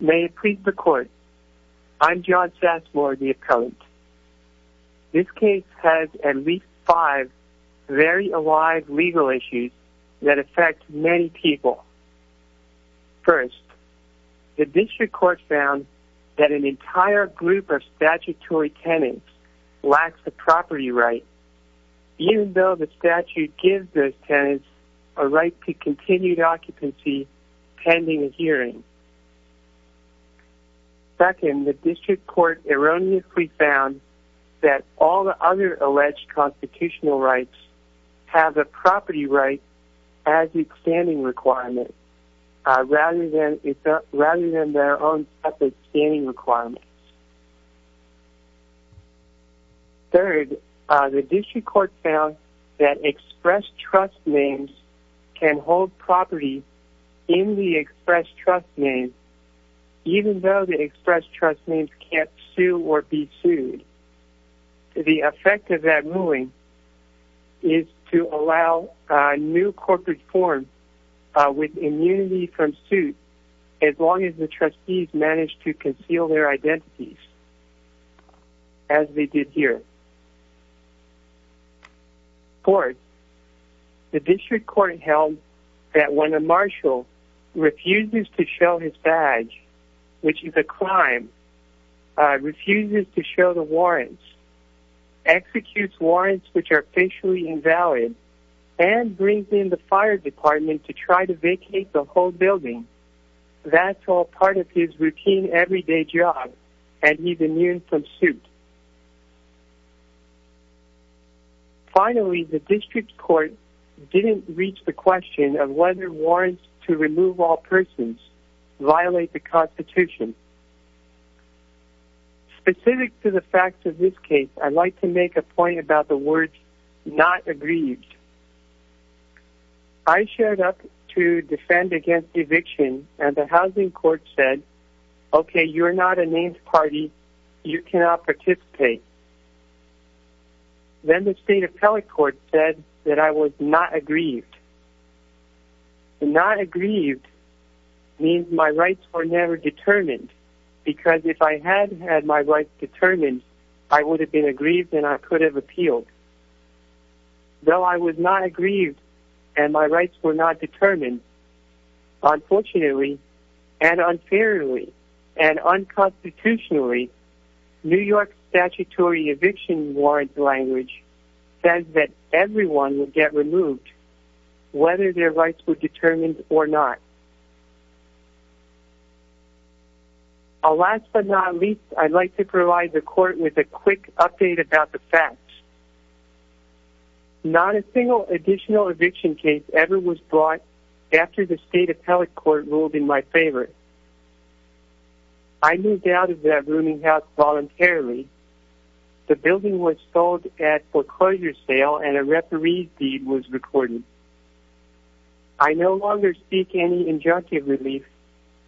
May it please the court, I'm John Sasmor, the appellant. This case has at least five very alive legal issues that affect many people. First, the district court found that an entire group of statutory tenants lacks a property right, even though the statute gives those tenants a right to continued occupancy pending a hearing. Second, the district court erroneously found that all the other alleged constitutional rights have a property right as a standing requirement rather than their own separate standing requirements. Third, the district court found that express trust names can hold property in the express trust name even though the express trust names can't sue or be sued. The effect of that ruling is to allow new corporate forms with immunity from suit as long as the trustees manage to conceal their identities as they did here. Fourth, the district court held that when a marshal refuses to show his badge, which is a crime, refuses to show the warrants, executes warrants which are facially invalid, and brings in the fire department to try to vacate the whole building, that's all part of his routine everyday job and he's immune from suit. Finally, the district court didn't reach the question of whether warrants to remove all persons violate the Constitution. Specific to the facts of this case, I'd like to make a point about the words not aggrieved. I showed up to defend against eviction and the housing court said, okay, you're not a named party, you cannot participate. Then the state appellate court said that I was not aggrieved. Not aggrieved means my rights were never determined because if I had had my rights determined, I would have been aggrieved and I could have appealed. Though I was not aggrieved and my rights were not determined, unfortunately and unfairly and unconstitutionally, New York's statutory eviction warrants language says that everyone would get removed whether their rights were determined or not. Last but not least, I'd like to provide the court with a quick update about the facts. Not a single additional eviction case ever was brought after the state appellate court ruled in my favor. I moved out of that rooming house voluntarily. The building was sold at foreclosure sale and a referee's deed was recorded. I no longer seek any injunctive relief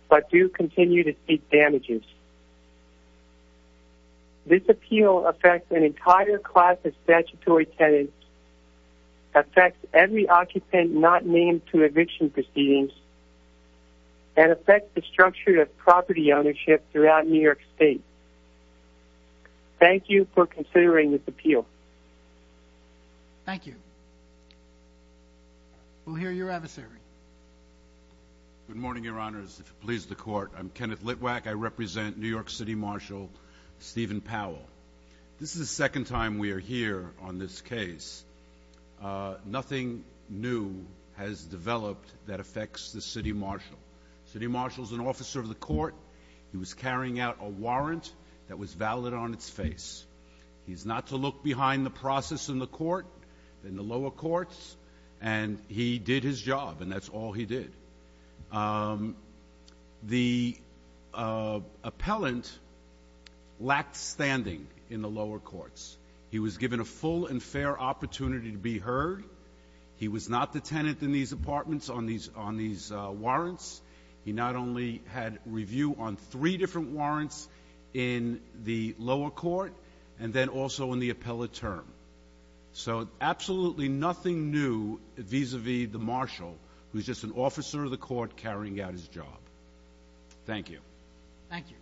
but do continue to seek damages. This appeal affects an entire class of statutory tenants, affects every occupant not named to eviction proceedings, and affects the structure of property ownership throughout New York State. Thank you for considering this appeal. Thank you. We'll hear your adversary. Good morning, Your Honors. If it pleases the court, I'm Kenneth Litwack. I represent New York City Marshal Stephen Powell. This is the second time we are here on this case. Nothing new has developed that affects the city marshal. The city marshal is an officer of the court. He was carrying out a warrant that was valid on its face. He's not to look behind the process in the court, in the lower courts, and he did his job, and that's all he did. The appellant lacked standing in the lower courts. He was given a full and fair opportunity to be heard. He was not the tenant in these apartments on these warrants. He not only had review on three different warrants in the lower court and then also in the appellate term. So absolutely nothing new vis-a-vis the marshal, who's just an officer of the court carrying out his job. Thank you. Thank you.